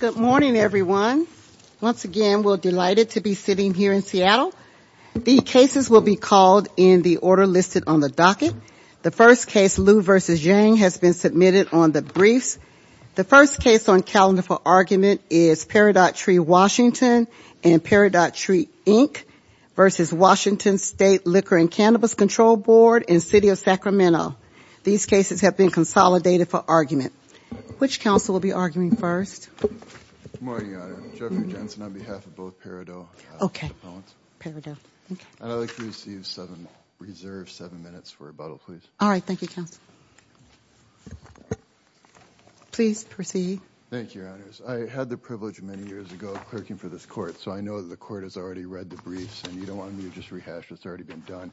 Good morning, everyone. Once again, we're delighted to be sitting here in Seattle. The cases will be called in the order listed on the docket. The first case, Lu v. Yang, has been submitted on the briefs. The first case on calendar for argument is Peridot Tree WA and Peridot Tree, Inc. v. Washington State Liquor and Cannabis Control Board in City of Sacramento. These cases have been consolidated for argument. Which counsel will be arguing first? Good morning, Your Honor. Jeffrey Jensen on behalf of both Peridot opponents. And I'd like to reserve seven minutes for rebuttal, please. All right. Thank you, counsel. Please proceed. Thank you, Your Honors. I had the privilege many years ago of clerking for this court, so I know the court has already read the briefs and you don't want me to just rehash what's already been done.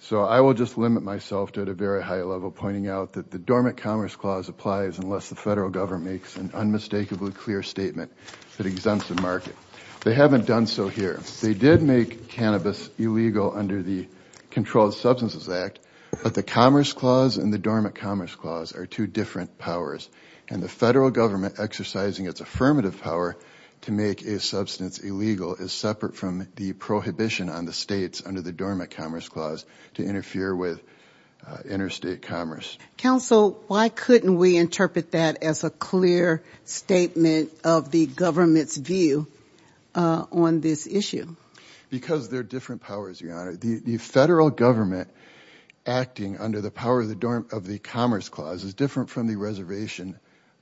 So I will just limit myself to at a very high level pointing out that the Dormant Commerce Clause applies unless the federal government makes an unmistakably clear statement that exempts the market. They haven't done so here. They did make cannabis illegal under the Controlled Substances Act, but the Commerce Clause and the Dormant Commerce Clause are two different powers. And the federal government exercising its affirmative power to make a substance illegal is separate from the prohibition on the states under the Dormant Commerce Clause to interfere with interstate commerce. Counsel, why couldn't we interpret that as a clear statement of the government's view on this issue? Because they're different powers, Your Honor. The federal government acting under the power of the Commerce Clause is different from the reservation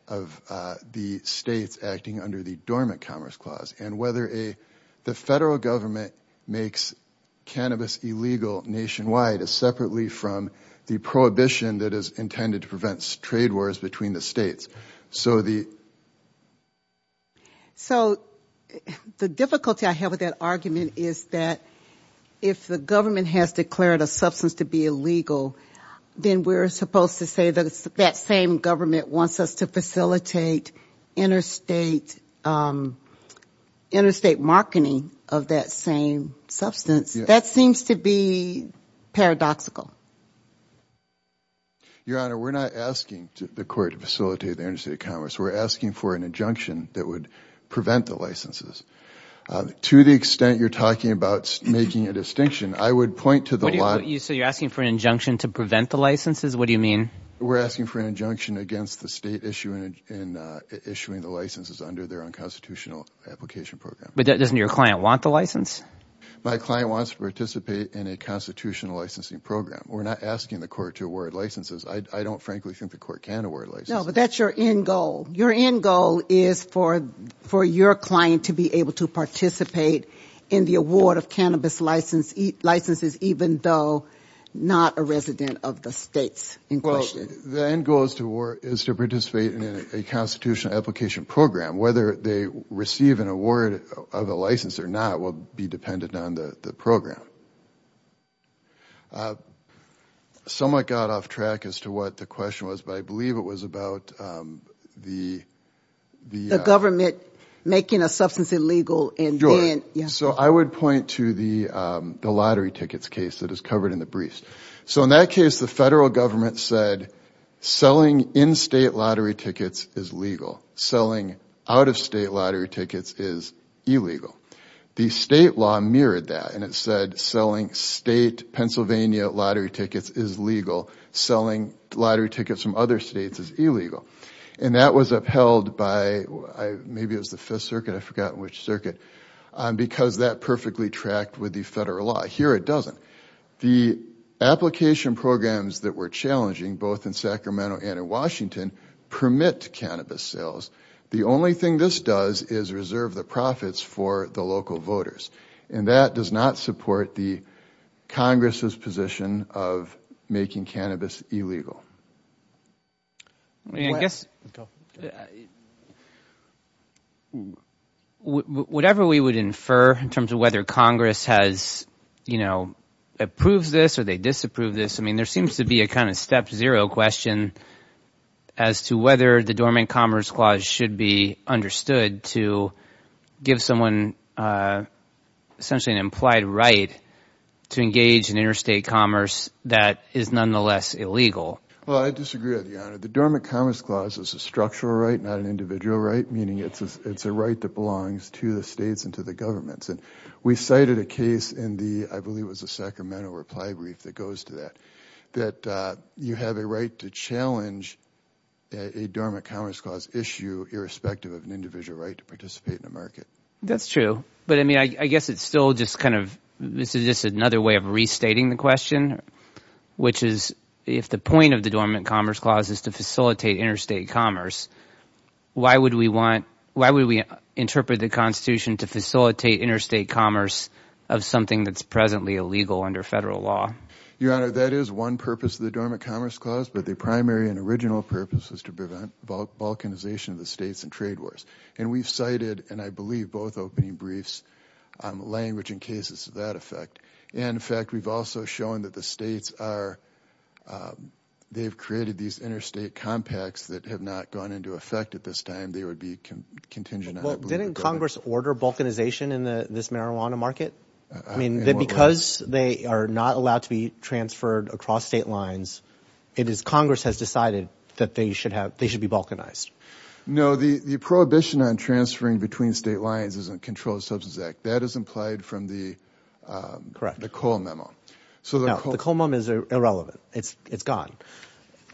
of the states acting under the Dormant Commerce Clause. And whether the federal government makes cannabis illegal nationwide is separately from the prohibition that is intended to prevent trade wars between the states. So the difficulty I have with that argument is that if the government has declared a substance to be illegal, then we're supposed to say that that same government wants us to facilitate interstate marketing of that same substance. That seems to be paradoxical. Your Honor, we're not asking the court to facilitate the interstate commerce. We're asking for an injunction that would prevent the licenses. To the extent you're talking about making a distinction, I would point to the law… So you're asking for an injunction to prevent the licenses? What do you mean? We're asking for an injunction against the state issuing the licenses under their own constitutional application program. But doesn't your client want the license? My client wants to participate in a constitutional licensing program. We're not asking the court to award licenses. I don't frankly think the court can award licenses. No, but that's your end goal. Your end goal is for your client to be able to participate in the award of cannabis licenses even though not a resident of the states. Well, the end goal is to participate in a constitutional application program. Whether they receive an award of a license or not will be dependent on the program. I somewhat got off track as to what the question was, but I believe it was about the… The government making a substance illegal and then… So I would point to the lottery tickets case that is covered in the briefs. So in that case, the federal government said selling in-state lottery tickets is legal. Selling out-of-state lottery tickets is illegal. The state law mirrored that and it said selling state Pennsylvania lottery tickets is legal. Selling lottery tickets from other states is illegal. And that was upheld by, maybe it was the Fifth Circuit, I forgot which circuit, because that perfectly tracked with the federal law. Here it doesn't. The application programs that we're challenging, both in Sacramento and in Washington, permit cannabis sales. The only thing this does is reserve the profits for the local voters. And that does not support the Congress's position of making cannabis illegal. I guess whatever we would infer in terms of whether Congress has – approves this or they disapprove this, I mean there seems to be a kind of step zero question as to whether the Dormant Commerce Clause should be understood to give someone essentially an implied right to engage in interstate commerce that is nonetheless illegal. Well, I disagree with you, Honor. The Dormant Commerce Clause is a structural right, not an individual right, meaning it's a right that belongs to the states and to the governments. We cited a case in the – I believe it was the Sacramento reply brief that goes to that, that you have a right to challenge a Dormant Commerce Clause issue irrespective of an individual right to participate in the market. That's true, but I mean I guess it's still just kind of – this is just another way of restating the question, which is if the point of the Dormant Commerce Clause is to facilitate interstate commerce, why would we want – why would we interpret the Constitution to facilitate interstate commerce of something that's presently illegal under federal law? Your Honor, that is one purpose of the Dormant Commerce Clause, but the primary and original purpose is to prevent balkanization of the states and trade wars, and we've cited, and I believe both opening briefs, language in cases to that effect. In fact, we've also shown that the states are – they've created these interstate compacts that have not gone into effect at this time. They would be contingent on – Didn't Congress order balkanization in this marijuana market? I mean that because they are not allowed to be transferred across state lines, it is – Congress has decided that they should have – they should be balkanized. No, the prohibition on transferring between state lines is in the Controlled Substance Act. That is implied from the – Correct. The Cole Memo. No, the Cole Memo is irrelevant. It's gone.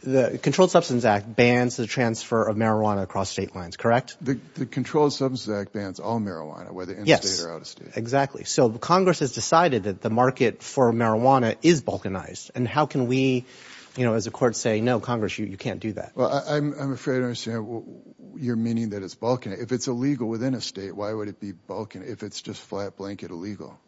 The Controlled Substance Act bans the transfer of marijuana across state lines, correct? The Controlled Substance Act bans all marijuana, whether interstate or out-of-state. Yes, exactly. So Congress has decided that the market for marijuana is balkanized, and how can we, as a court, say no, Congress, you can't do that? Well, I'm afraid I don't understand your meaning that it's balkanized. If it's illegal within a state, why would it be balkanized if it's just flat-blanket illegal?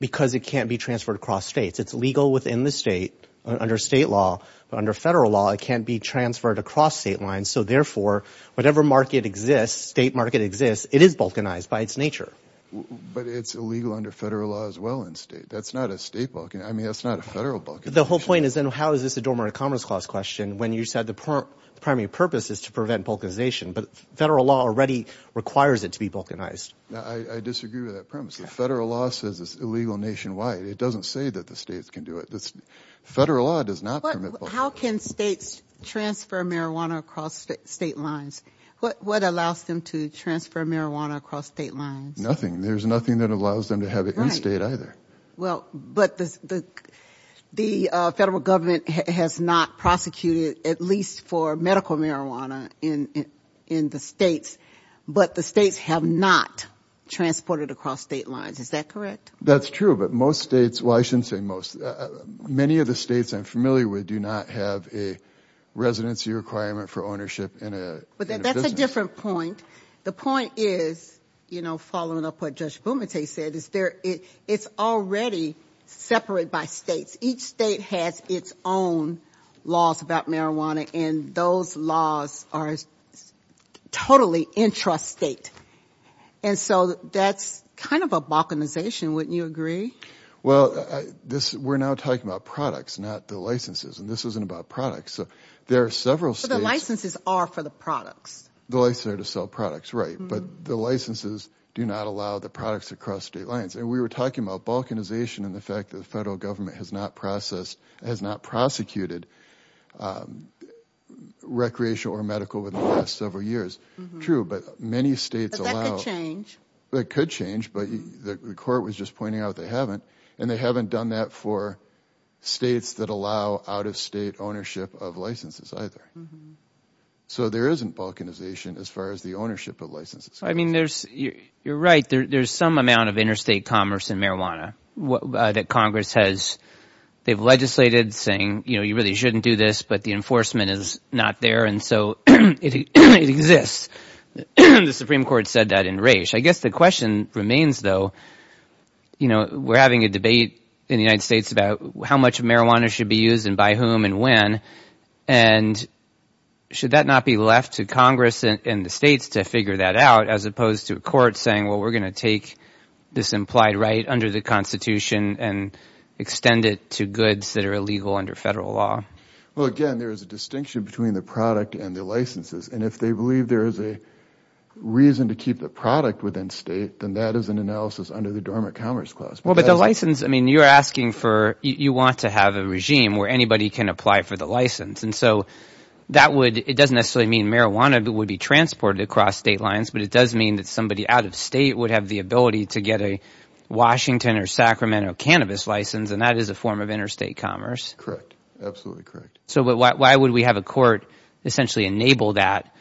Because it can't be transferred across states. It's illegal within the state under state law, but under federal law it can't be transferred across state lines. So therefore, whatever market exists, state market exists, it is balkanized by its nature. But it's illegal under federal law as well in state. That's not a state balkanization. I mean that's not a federal balkanization. The whole point is then how is this a dormant commerce clause question when you said the primary purpose is to prevent balkanization, but federal law already requires it to be balkanized. I disagree with that premise. The federal law says it's illegal nationwide. It doesn't say that the states can do it. Federal law does not permit balkanization. How can states transfer marijuana across state lines? What allows them to transfer marijuana across state lines? Nothing. There's nothing that allows them to have it in state either. Well, but the federal government has not prosecuted at least for medical marijuana in the states, but the states have not transported across state lines. Is that correct? That's true, but most states, well I shouldn't say most, many of the states I'm familiar with do not have a residency requirement for ownership in a business. But that's a different point. The point is, you know, following up what Judge Bumate said, it's already separated by states. Each state has its own laws about marijuana, and those laws are totally intrastate, and so that's kind of a balkanization, wouldn't you agree? Well, we're now talking about products, not the licenses, and this isn't about products. But the licenses are for the products. The licenses are to sell products, right. But the licenses do not allow the products to cross state lines. And we were talking about balkanization and the fact that the federal government has not prosecuted recreational or medical within the last several years. True, but many states allow... But that could change. That could change, but the court was just pointing out they haven't, and they haven't done that for states that allow out-of-state ownership of licenses either. So there isn't balkanization as far as the ownership of licenses. I mean, you're right. There's some amount of interstate commerce in marijuana that Congress has legislated saying, you know, you really shouldn't do this, but the enforcement is not there, and so it exists. The Supreme Court said that in Raich. I guess the question remains, though, you know, we're having a debate in the United States about how much marijuana should be used and by whom and when, and should that not be left to Congress and the states to figure that out as opposed to a court saying, well, we're going to take this implied right under the Constitution and extend it to goods that are illegal under federal law? Well, again, there is a distinction between the product and the licenses, and if they believe there is a reason to keep the product within state, then that is an analysis under the Dormant Commerce Clause. Well, but the license, I mean, you're asking for, you want to have a regime where anybody can apply for the license, and so that would, it doesn't necessarily mean marijuana would be transported across state lines, but it does mean that somebody out of state would have the ability to get a Washington or Sacramento cannabis license, and that is a form of interstate commerce. Correct, absolutely correct. So why would we have a court essentially enable that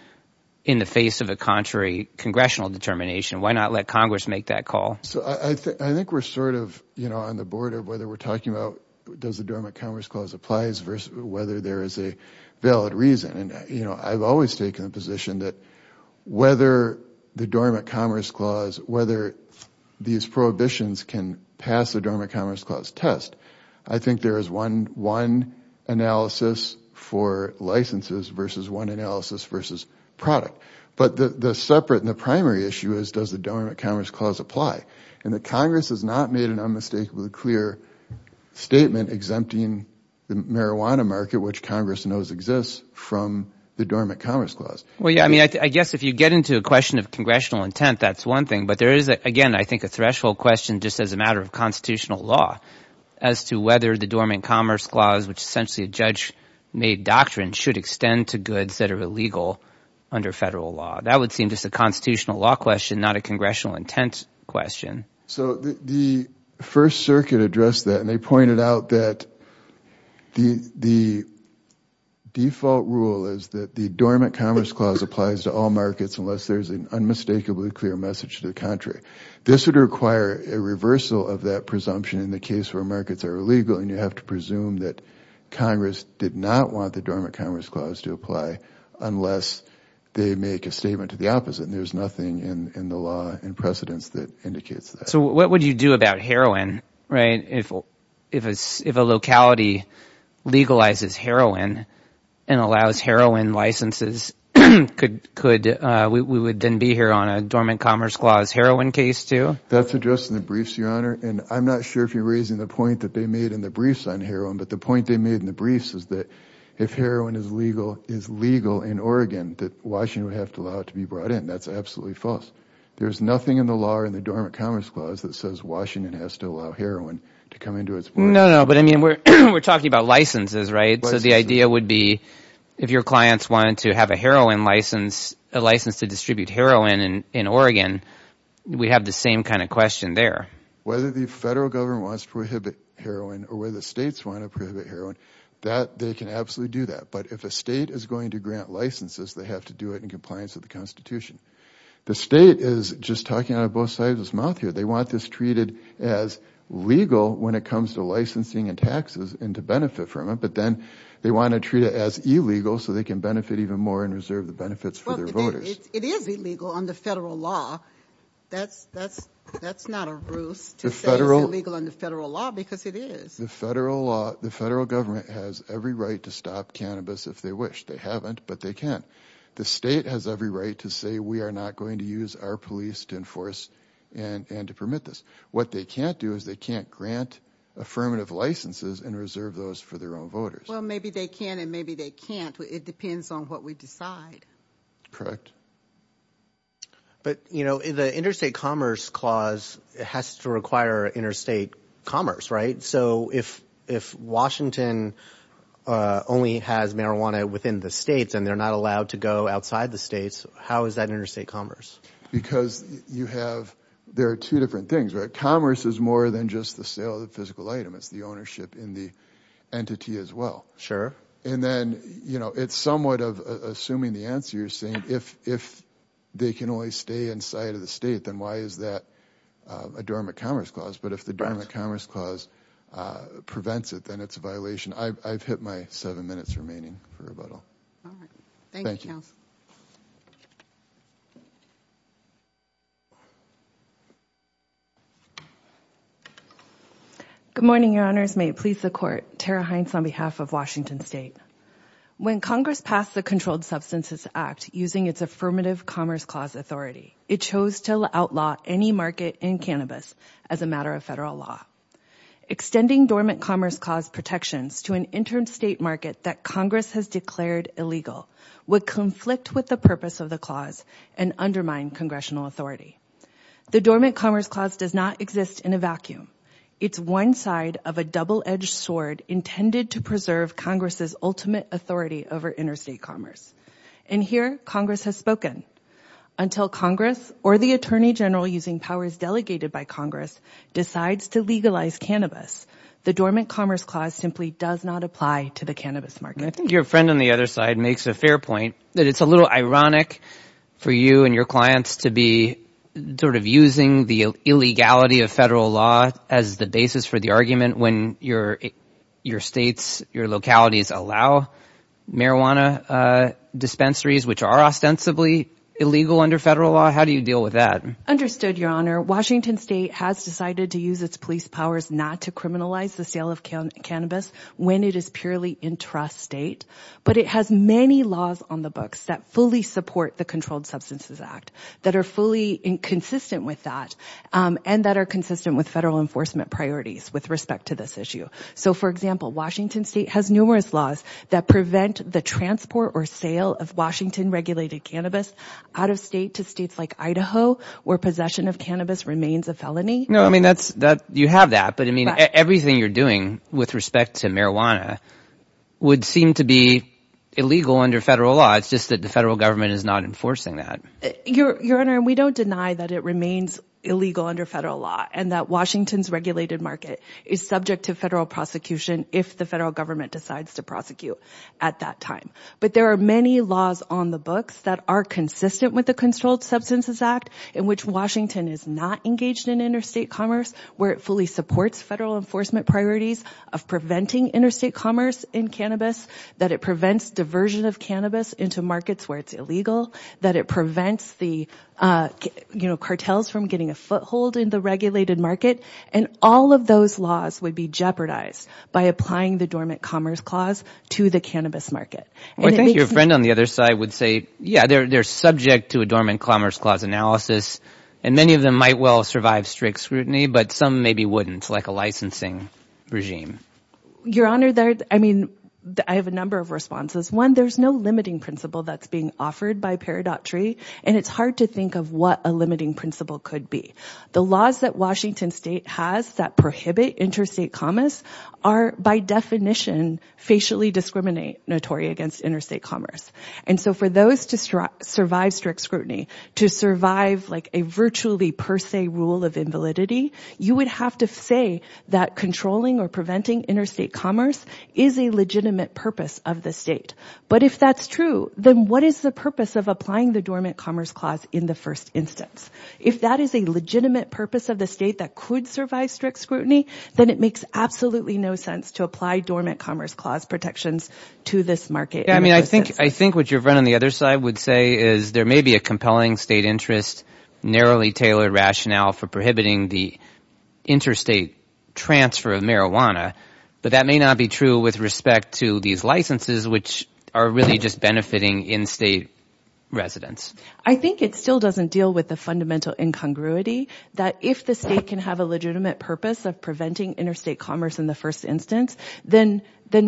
in the face of a contrary congressional determination? Why not let Congress make that call? So I think we're sort of, you know, on the border of whether we're talking about does the Dormant Commerce Clause applies versus whether there is a valid reason, and, you know, I've always taken the position that whether the Dormant Commerce Clause, whether these prohibitions can pass the Dormant Commerce Clause test. I think there is one analysis for licenses versus one analysis versus product, but the separate and the primary issue is does the Dormant Commerce Clause apply, and that Congress has not made an unmistakably clear statement exempting the marijuana market, which Congress knows exists, from the Dormant Commerce Clause. Well, yeah, I mean, I guess if you get into a question of congressional intent, that's one thing, but there is, again, I think a threshold question just as a matter of constitutional law as to whether the Dormant Commerce Clause, which essentially a judge-made doctrine should extend to goods that are illegal under federal law. That would seem just a constitutional law question, not a congressional intent question. So the First Circuit addressed that, and they pointed out that the default rule is that the Dormant Commerce Clause applies to all markets unless there is an unmistakably clear message to the contrary. This would require a reversal of that presumption in the case where markets are illegal, and you have to presume that Congress did not want the Dormant Commerce Clause to apply unless they make a statement to the opposite, and there's nothing in the law and precedents that indicates that. So what would you do about heroin, right, if a locality legalizes heroin and allows heroin licenses? Could we then be here on a Dormant Commerce Clause heroin case, too? That's addressed in the briefs, Your Honor, and I'm not sure if you're raising the point that they made in the briefs on heroin, but the point they made in the briefs is that if heroin is legal in Oregon, that Washington would have to allow it to be brought in. That's absolutely false. There's nothing in the law or in the Dormant Commerce Clause that says Washington has to allow heroin to come into its market. No, no, but I mean we're talking about licenses, right? So the idea would be if your clients wanted to have a heroin license, a license to distribute heroin in Oregon, we'd have the same kind of question there. Whether the federal government wants to prohibit heroin or whether the states want to prohibit heroin, they can absolutely do that. But if a state is going to grant licenses, they have to do it in compliance with the Constitution. The state is just talking out of both sides of its mouth here. They want this treated as legal when it comes to licensing and taxes and to benefit from it, but then they want to treat it as illegal so they can benefit even more and reserve the benefits for their voters. It is illegal under federal law. That's not a ruse to say it's illegal under federal law because it is. The federal government has every right to stop cannabis if they wish. They haven't, but they can. The state has every right to say we are not going to use our police to enforce and to permit this. What they can't do is they can't grant affirmative licenses and reserve those for their own voters. Well, maybe they can and maybe they can't. It depends on what we decide. Correct. But the Interstate Commerce Clause has to require interstate commerce, right? So if Washington only has marijuana within the states and they're not allowed to go outside the states, how is that interstate commerce? Because you have – there are two different things, right? Commerce is more than just the sale of the physical item. It's the ownership in the entity as well. Sure. And then, you know, it's somewhat of assuming the answer. You're saying if they can only stay inside of the state, then why is that a Dormant Commerce Clause? But if the Dormant Commerce Clause prevents it, then it's a violation. I've hit my seven minutes remaining for rebuttal. All right. Thank you, Counsel. Good morning, Your Honors. Congress may please the Court. Tara Hines on behalf of Washington State. When Congress passed the Controlled Substances Act using its affirmative Commerce Clause authority, it chose to outlaw any market in cannabis as a matter of federal law. Extending Dormant Commerce Clause protections to an interstate market that Congress has declared illegal would conflict with the purpose of the clause and undermine congressional authority. The Dormant Commerce Clause does not exist in a vacuum. It's one side of a double-edged sword intended to preserve Congress's ultimate authority over interstate commerce. And here, Congress has spoken. Until Congress or the Attorney General using powers delegated by Congress decides to legalize cannabis, the Dormant Commerce Clause simply does not apply to the cannabis market. I think your friend on the other side makes a fair point that it's a little ironic for you and your clients to be sort of using the illegality of federal law as the basis for the argument when your states, your localities allow marijuana dispensaries, which are ostensibly illegal under federal law. How do you deal with that? Understood, Your Honor. Washington State has decided to use its police powers not to criminalize the sale of cannabis when it is purely intrastate. But it has many laws on the books that fully support the Controlled Substances Act, that are fully consistent with that, and that are consistent with federal enforcement priorities with respect to this issue. So, for example, Washington State has numerous laws that prevent the transport or sale of Washington-regulated cannabis out of state to states like Idaho, where possession of cannabis remains a felony. You have that, but everything you're doing with respect to marijuana would seem to be illegal under federal law. It's just that the federal government is not enforcing that. Your Honor, we don't deny that it remains illegal under federal law and that Washington's regulated market is subject to federal prosecution if the federal government decides to prosecute at that time. But there are many laws on the books that are consistent with the Controlled Substances Act, in which Washington is not engaged in interstate commerce, where it fully supports federal enforcement priorities of preventing interstate commerce in cannabis, that it prevents diversion of cannabis into markets where it's illegal, that it prevents the, you know, cartels from getting a foothold in the regulated market. And all of those laws would be jeopardized by applying the Dormant Commerce Clause to the cannabis market. I think your friend on the other side would say, yeah, they're subject to a Dormant Commerce Clause analysis, and many of them might well survive strict scrutiny, but some maybe wouldn't, like a licensing regime. Your Honor, I mean, I have a number of responses. One, there's no limiting principle that's being offered by Paradox Tree, and it's hard to think of what a limiting principle could be. The laws that Washington State has that prohibit interstate commerce are, by definition, facially discriminatory against interstate commerce. And so for those to survive strict scrutiny, to survive like a virtually per se rule of invalidity, you would have to say that controlling or preventing interstate commerce is a legitimate purpose of the state. But if that's true, then what is the purpose of applying the Dormant Commerce Clause in the first instance? If that is a legitimate purpose of the state that could survive strict scrutiny, then it makes absolutely no sense to apply Dormant Commerce Clause protections to this market. I mean, I think what your friend on the other side would say is there may be a compelling state interest, narrowly tailored rationale for prohibiting the interstate transfer of marijuana, but that may not be true with respect to these licenses, which are really just benefiting in-state residents. I think it still doesn't deal with the fundamental incongruity that if the state can have a legitimate purpose of preventing interstate commerce in the first instance, then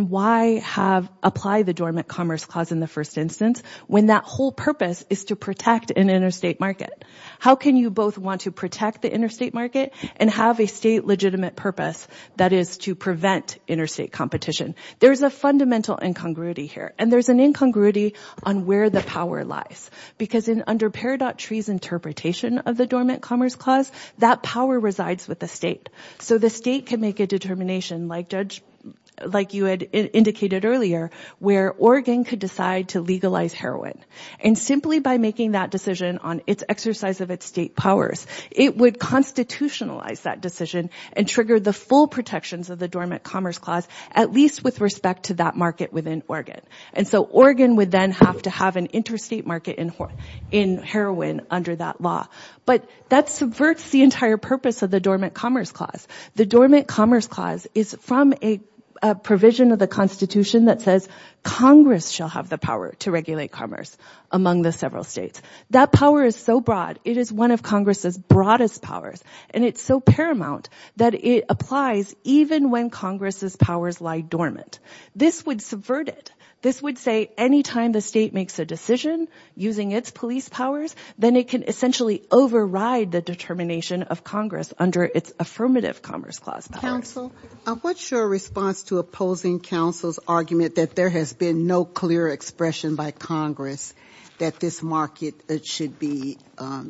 why apply the Dormant Commerce Clause in the first instance when that whole purpose is to protect an interstate market? How can you both want to protect the interstate market and have a state legitimate purpose that is to prevent interstate competition? There's a fundamental incongruity here, and there's an incongruity on where the power lies, because under Peridot Tree's interpretation of the Dormant Commerce Clause, that power resides with the state. So the state can make a determination, like you had indicated earlier, where Oregon could decide to legalize heroin. And simply by making that decision on its exercise of its state powers, it would constitutionalize that decision and trigger the full protections of the Dormant Commerce Clause, at least with respect to that market within Oregon. And so Oregon would then have to have an interstate market in heroin under that law. But that subverts the entire purpose of the Dormant Commerce Clause. The Dormant Commerce Clause is from a provision of the Constitution that says Congress shall have the power to regulate commerce among the several states. That power is so broad, it is one of Congress's broadest powers, and it's so paramount that it applies even when Congress's powers lie dormant. This would subvert it. This would say any time the state makes a decision using its police powers, then it can essentially override the determination of Congress under its Affirmative Commerce Clause. Counsel, what's your response to opposing counsel's argument that there has been no clear expression by Congress that this market should be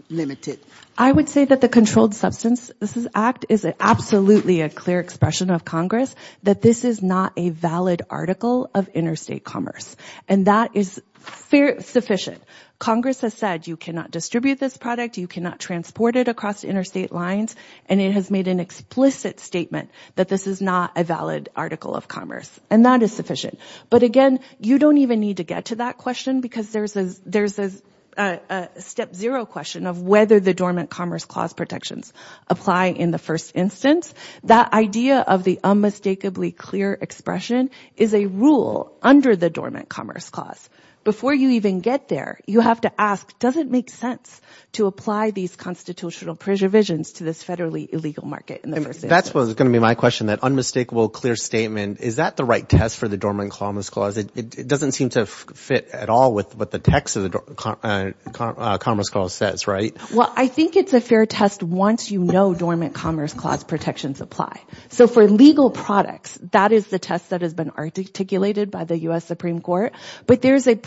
limited? I would say that the Controlled Substances Act is absolutely a clear expression of Congress that this is not a valid article of interstate commerce, and that is sufficient. Congress has said you cannot distribute this product, you cannot transport it across interstate lines, and it has made an explicit statement that this is not a valid article of commerce, and that is sufficient. But again, you don't even need to get to that question, because there's a step zero question of whether the Dormant Commerce Clause protections apply in the first instance. That idea of the unmistakably clear expression is a rule under the Dormant Commerce Clause. Before you even get there, you have to ask, does it make sense to apply these constitutional preservations to this federally illegal market in the first instance? That's going to be my question, that unmistakable clear statement. Is that the right test for the Dormant Commerce Clause? It doesn't seem to fit at all with what the text of the Commerce Clause says, right? Well, I think it's a fair test once you know Dormant Commerce Clause protections apply. So for legal products, that is the test that has been articulated by the U.S. Supreme Court, but there's an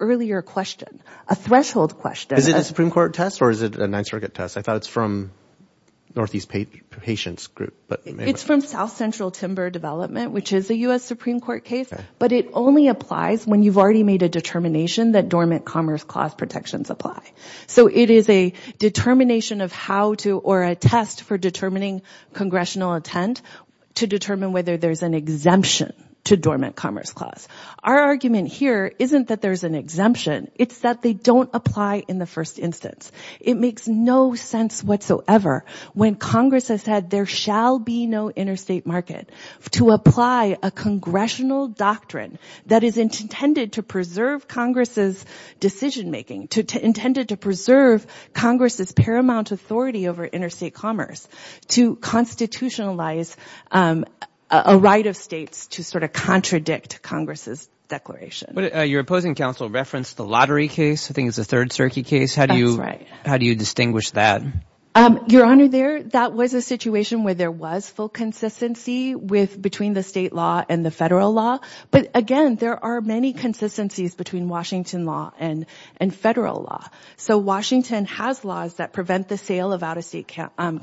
earlier question, a threshold question. Is it a Supreme Court test, or is it a Ninth Circuit test? I thought it's from Northeast Patients Group. It's from South Central Timber Development, which is a U.S. Supreme Court case, but it only applies when you've already made a determination that Dormant Commerce Clause protections apply. So it is a determination of how to, or a test for determining congressional intent to determine whether there's an exemption to Dormant Commerce Clause. Our argument here isn't that there's an exemption. It's that they don't apply in the first instance. It makes no sense whatsoever when Congress has said there shall be no interstate market. To apply a congressional doctrine that is intended to preserve Congress's decision-making, intended to preserve Congress's paramount authority over interstate commerce, to constitutionalize a right of states to sort of contradict Congress's declaration. Your opposing counsel referenced the lottery case. I think it's the third circuit case. That's right. How do you distinguish that? Your Honor, that was a situation where there was full consistency between the state law and the federal law. But again, there are many consistencies between Washington law and federal law. So Washington has laws that prevent the sale of out-of-state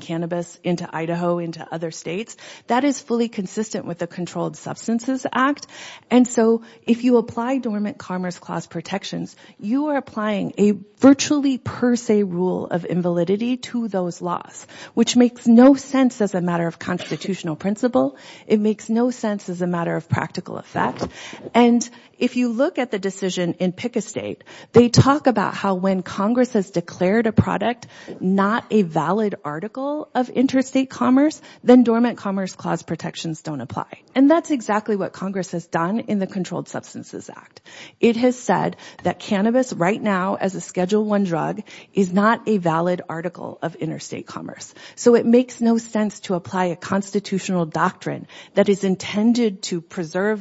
cannabis into Idaho, into other states. That is fully consistent with the Controlled Substances Act. And so if you apply Dormant Commerce Clause protections, you are applying a virtually per se rule of invalidity to those laws, which makes no sense as a matter of constitutional principle. It makes no sense as a matter of practical effect. And if you look at the decision in Pick a State, they talk about how when Congress has declared a product not a valid article of interstate commerce, then Dormant Commerce Clause protections don't apply. And that's exactly what Congress has done in the Controlled Substances Act. It has said that cannabis right now as a Schedule I drug is not a valid article of interstate commerce. So it makes no sense to apply a constitutional doctrine that is intended to preserve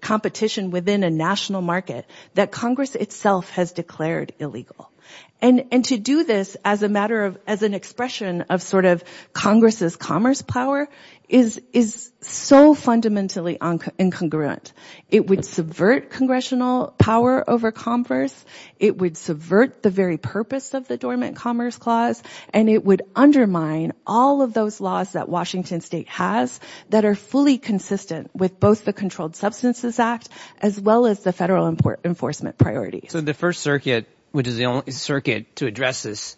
competition within a national market that Congress itself has declared illegal. And to do this as an expression of sort of Congress's commerce power is so fundamentally incongruent. It would subvert congressional power over commerce. It would subvert the very purpose of the Dormant Commerce Clause. And it would undermine all of those laws that Washington State has that are fully consistent with both the Controlled Substances Act as well as the federal enforcement priorities. So the First Circuit, which is the only circuit to address this,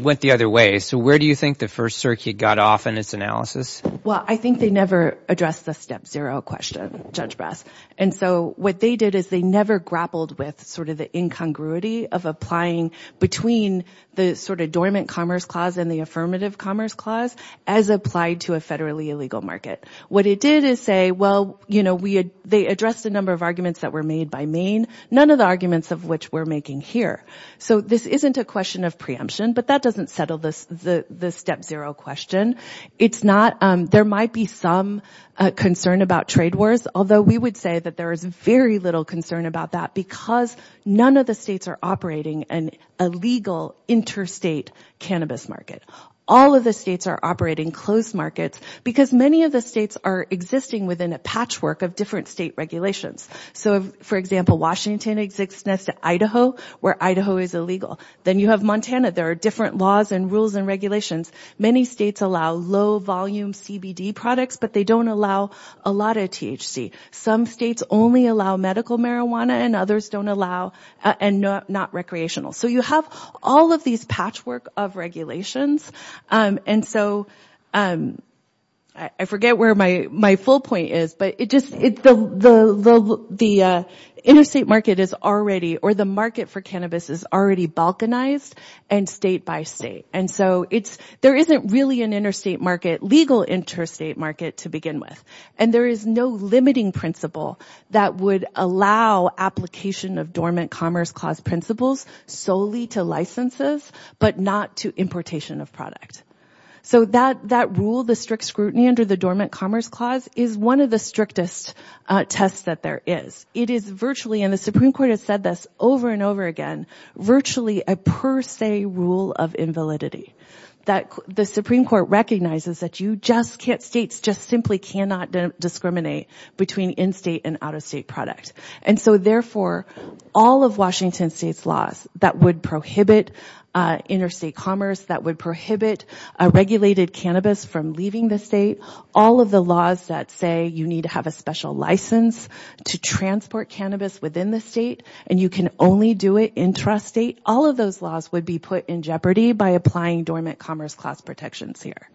went the other way. So where do you think the First Circuit got off in its analysis? Well, I think they never addressed the step zero question, Judge Brass. And so what they did is they never grappled with sort of the incongruity of applying between the sort of Dormant Commerce Clause and the Affirmative Commerce Clause as applied to a federally illegal market. What it did is say, well, you know, they addressed a number of arguments that were made by Maine, none of the arguments of which we're making here. So this isn't a question of preemption, but that doesn't settle the step zero question. It's not – there might be some concern about trade wars, although we would say that there is very little concern about that because none of the states are operating an illegal interstate cannabis market. All of the states are operating closed markets because many of the states are existing within a patchwork of different state regulations. So, for example, Washington exists next to Idaho, where Idaho is illegal. Then you have Montana. There are different laws and rules and regulations. Many states allow low-volume CBD products, but they don't allow a lot of THC. Some states only allow medical marijuana and others don't allow – and not recreational. So you have all of these patchwork of regulations. And so I forget where my full point is, but it just – the interstate market is already – or the market for cannabis is already balkanized and state by state. And so it's – there isn't really an interstate market – legal interstate market to begin with. And there is no limiting principle that would allow application of Dormant Commerce Clause principles solely to licenses but not to importation of product. So that rule, the strict scrutiny under the Dormant Commerce Clause, is one of the strictest tests that there is. It is virtually – and the Supreme Court has said this over and over again – virtually a per se rule of invalidity. The Supreme Court recognizes that you just can't – states just simply cannot discriminate between in-state and out-of-state product. And so, therefore, all of Washington state's laws that would prohibit interstate commerce, that would prohibit regulated cannabis from leaving the state, all of the laws that say you need to have a special license to transport cannabis within the state and you can only do it intrastate, all of those laws would be put in jeopardy by applying Dormant Commerce Clause protections here.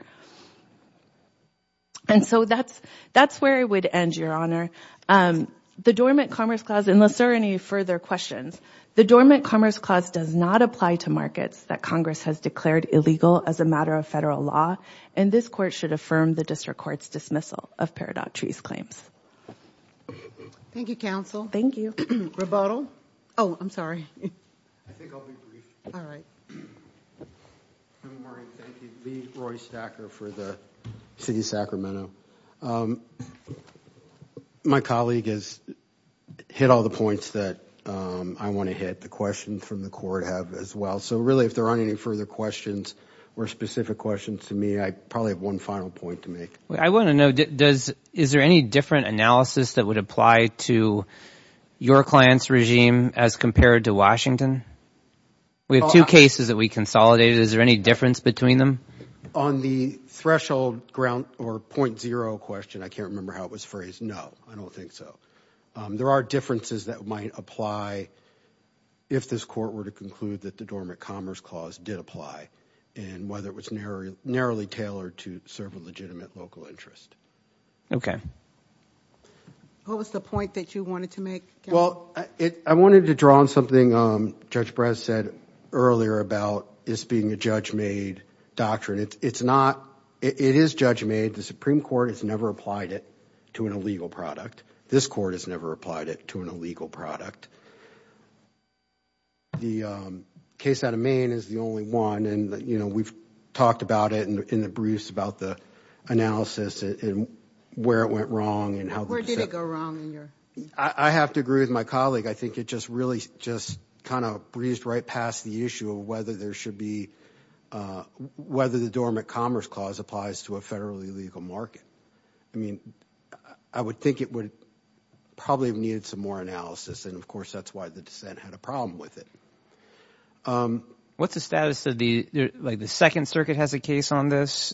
And so that's where I would end, Your Honor. The Dormant Commerce Clause – unless there are any further questions – the Dormant Commerce Clause does not apply to markets that Congress has declared illegal as a matter of federal law. And this Court should affirm the District Court's dismissal of Peridot Tree's claims. Thank you, Counsel. Thank you. Rebuttal? Oh, I'm sorry. I think I'll be brief. All right. Thank you. Lee Roystacker for the City of Sacramento. My colleague has hit all the points that I want to hit. The questions from the Court have as well. So really, if there aren't any further questions or specific questions to me, I probably have one final point to make. I want to know, is there any different analysis that would apply to your client's regime as compared to Washington? We have two cases that we consolidated. Is there any difference between them? On the threshold ground or point zero question, I can't remember how it was phrased. No, I don't think so. There are differences that might apply if this Court were to conclude that the Dormant Commerce Clause did apply and whether it was narrowly tailored to serve a legitimate local interest. What was the point that you wanted to make, Counsel? Well, I wanted to draw on something Judge Brett said earlier about this being a judge-made doctrine. It is judge-made. The Supreme Court has never applied it to an illegal product. This Court has never applied it to an illegal product. The case out of Maine is the only one. We've talked about it in the briefs about the analysis and where it went wrong. Where did it go wrong? I have to agree with my colleague. I think it just really breezed right past the issue of whether the Dormant Commerce Clause applies to a federally legal market. I mean, I would think it would probably have needed some more analysis. And, of course, that's why the dissent had a problem with it. What's the status of the – like the Second Circuit has a case on this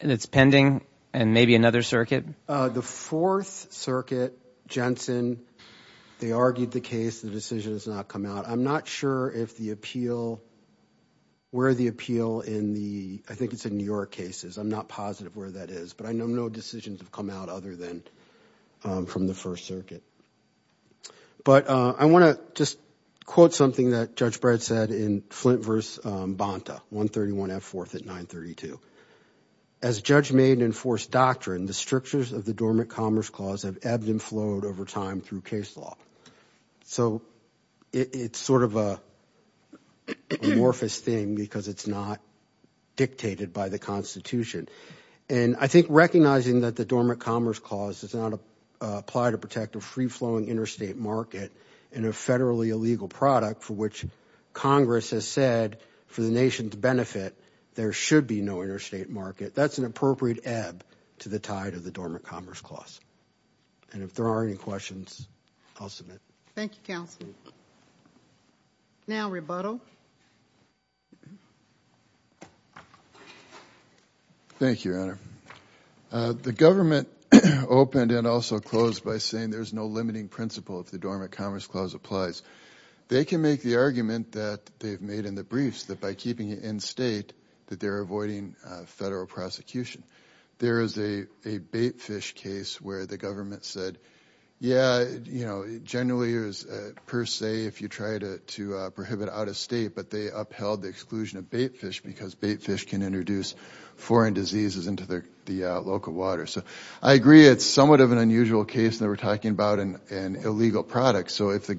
and it's pending and maybe another circuit? The Fourth Circuit, Jensen, they argued the case. The decision has not come out. I'm not sure if the appeal – where the appeal in the – I think it's in New York cases. I'm not positive where that is, but I know no decisions have come out other than from the First Circuit. But I want to just quote something that Judge Brett said in Flint v. Bonta, 131 F. 4th at 932. As judge-made enforced doctrine, the strictures of the Dormant Commerce Clause have ebbed and flowed over time through case law. So it's sort of an amorphous thing because it's not dictated by the Constitution. And I think recognizing that the Dormant Commerce Clause does not apply to protect a free-flowing interstate market in a federally illegal product for which Congress has said for the nation's benefit there should be no interstate market, that's an appropriate ebb to the tide of the Dormant Commerce Clause. And if there are any questions, I'll submit. Thank you, Counsel. Now, rebuttal. Thank you, Your Honor. The government opened and also closed by saying there's no limiting principle if the Dormant Commerce Clause applies. They can make the argument that they've made in the briefs that by keeping it in state that they're avoiding federal prosecution. There is a baitfish case where the government said, yeah, generally, per se, if you try to prohibit out-of-state, but they upheld the exclusion of baitfish because baitfish can introduce foreign diseases into the local water. So I agree it's somewhat of an unusual case that we're talking about in illegal products. So if the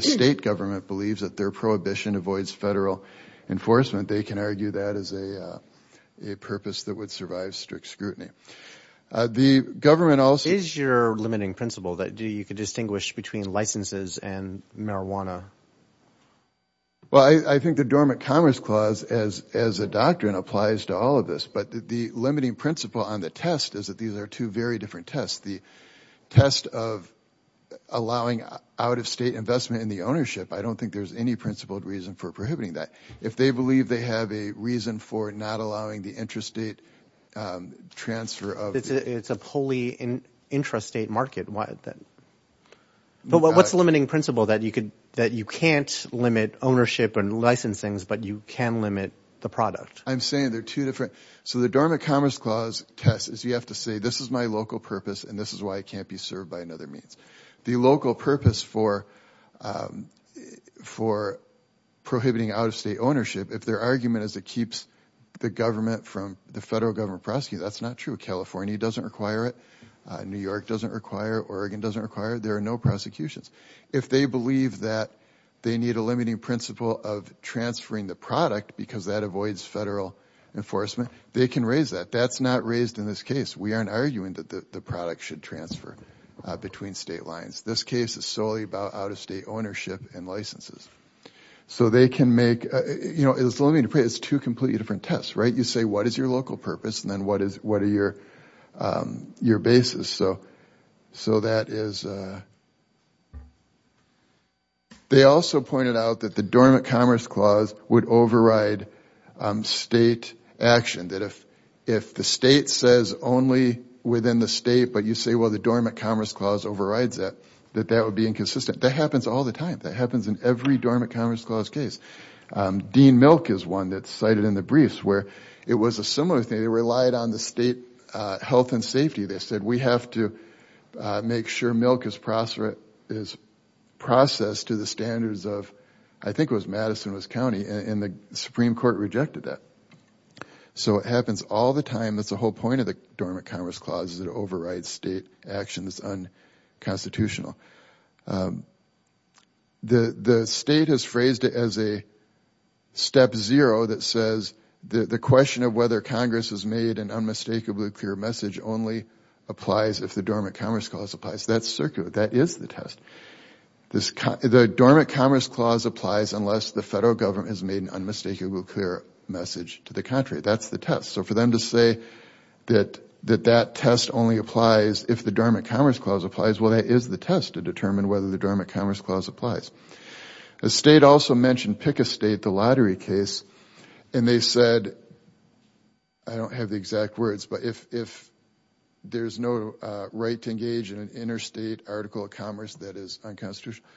state government believes that their prohibition avoids federal enforcement, they can argue that is a purpose that would survive strict scrutiny. Is your limiting principle that you can distinguish between licenses and marijuana? Well, I think the Dormant Commerce Clause as a doctrine applies to all of this, but the limiting principle on the test is that these are two very different tests. The test of allowing out-of-state investment in the ownership, I don't think there's any principled reason for prohibiting that. If they believe they have a reason for not allowing the intrastate transfer of... It's a wholly intrastate market. But what's the limiting principle that you can't limit ownership and licensings, but you can limit the product? I'm saying they're two different... So the Dormant Commerce Clause test is you have to say, this is my local purpose, and this is why I can't be served by another means. The local purpose for prohibiting out-of-state ownership, if their argument is it keeps the federal government prosecuted, that's not true. California doesn't require it. New York doesn't require it. Oregon doesn't require it. There are no prosecutions. If they believe that they need a limiting principle of transferring the product because that avoids federal enforcement, they can raise that. That's not raised in this case. We aren't arguing that the product should transfer between state lines. This case is solely about out-of-state ownership and licenses. So they can make... It's two completely different tests, right? You say, what is your local purpose, and then what are your bases? They also pointed out that the Dormant Commerce Clause would override state action. That if the state says only within the state, but you say, well, the Dormant Commerce Clause overrides that, that that would be inconsistent. That happens all the time. That happens in every Dormant Commerce Clause case. Dean Milk is one that's cited in the briefs, where it was a similar thing. They relied on the state health and safety. They said, we have to make sure milk is processed to the standards of, I think it was Madison, it was county, and the Supreme Court rejected that. So it happens all the time. That's the whole point of the Dormant Commerce Clause, is it overrides state action that's unconstitutional. The state has phrased it as a step zero that says the question of whether Congress has made an unmistakably clear message only applies if the Dormant Commerce Clause applies. That's circular. That is the test. The Dormant Commerce Clause applies unless the federal government has made an unmistakably clear message to the contrary. That's the test. So for them to say that that test only applies if the Dormant Commerce Clause applies, well that is the test to determine whether the Dormant Commerce Clause applies. The state also mentioned Pick a State, the lottery case, and they said, I don't have the exact words, but if there's no right to engage in an interstate article of commerce that is unconstitutional.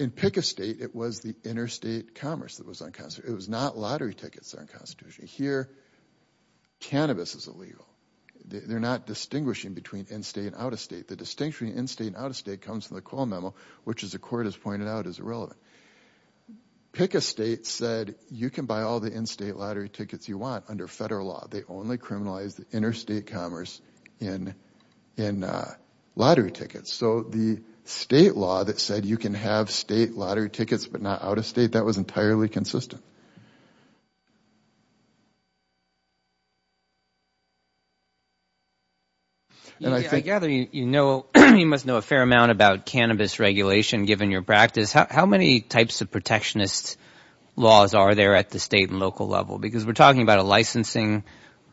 In Pick a State, it was the interstate commerce that was unconstitutional. It was not lottery tickets that were unconstitutional. Here, cannabis is illegal. They're not distinguishing between in-state and out-of-state. The distinction between in-state and out-of-state comes from the Quill Memo, which as the court has pointed out is irrelevant. Pick a State said you can buy all the in-state lottery tickets you want under federal law. They only criminalize the interstate commerce in lottery tickets. So the state law that said you can have state lottery tickets but not out-of-state, that was entirely consistent. I gather you must know a fair amount about cannabis regulation given your practice. How many types of protectionist laws are there at the state and local level? We're talking about a licensing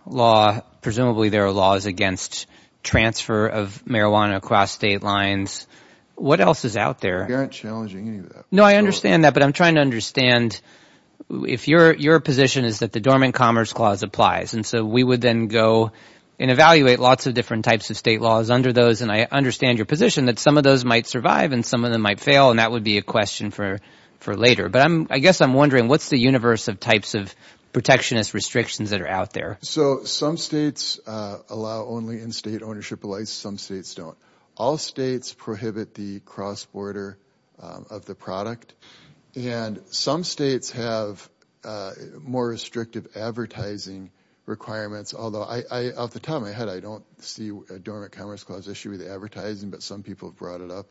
law. Presumably there are laws against transfer of marijuana across state lines. What else is out there? I understand that, but I'm trying to understand if your position is that the Dormant Commerce Clause applies. So we would then go and evaluate lots of different types of state laws under those, and I understand your position that some of those might survive and some of them might fail, and that would be a question for later. But I guess I'm wondering, what's the universe of types of protectionist restrictions that are out there? So some states allow only in-state ownership of license. Some states don't. All states prohibit the cross-border of the product, and some states have more restrictive advertising requirements. Although off the top of my head, I don't see a Dormant Commerce Clause issue with advertising, but some people brought it up.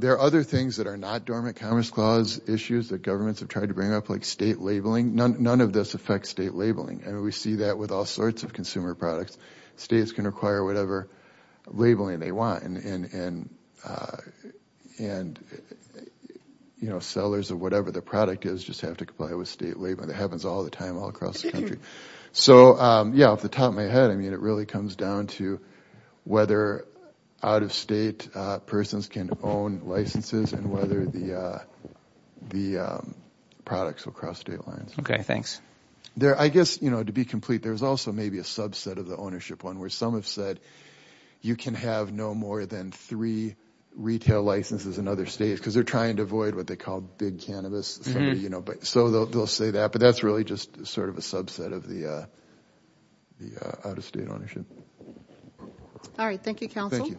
There are other things that are not Dormant Commerce Clause issues that governments have tried to bring up, like state labeling. None of this affects state labeling, and we see that with all sorts of consumer products. States can require whatever labeling they want, and sellers of whatever the product is just have to comply with state labeling. That happens all the time all across the country. So yeah, off the top of my head, it really comes down to whether out-of-state persons can own licenses and whether the products will cross state lines. Okay, thanks. I guess to be complete, there's also maybe a subset of the ownership one, where some have said you can have no more than three retail licenses in other states, because they're trying to avoid what they call big cannabis. So they'll say that, but that's really just sort of a subset of the out-of-state ownership. All right, thank you, counsel. Thank you.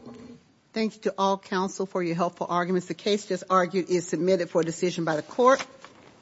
Thank you to all counsel for your helpful arguments. The case just argued is submitted for decision by the court.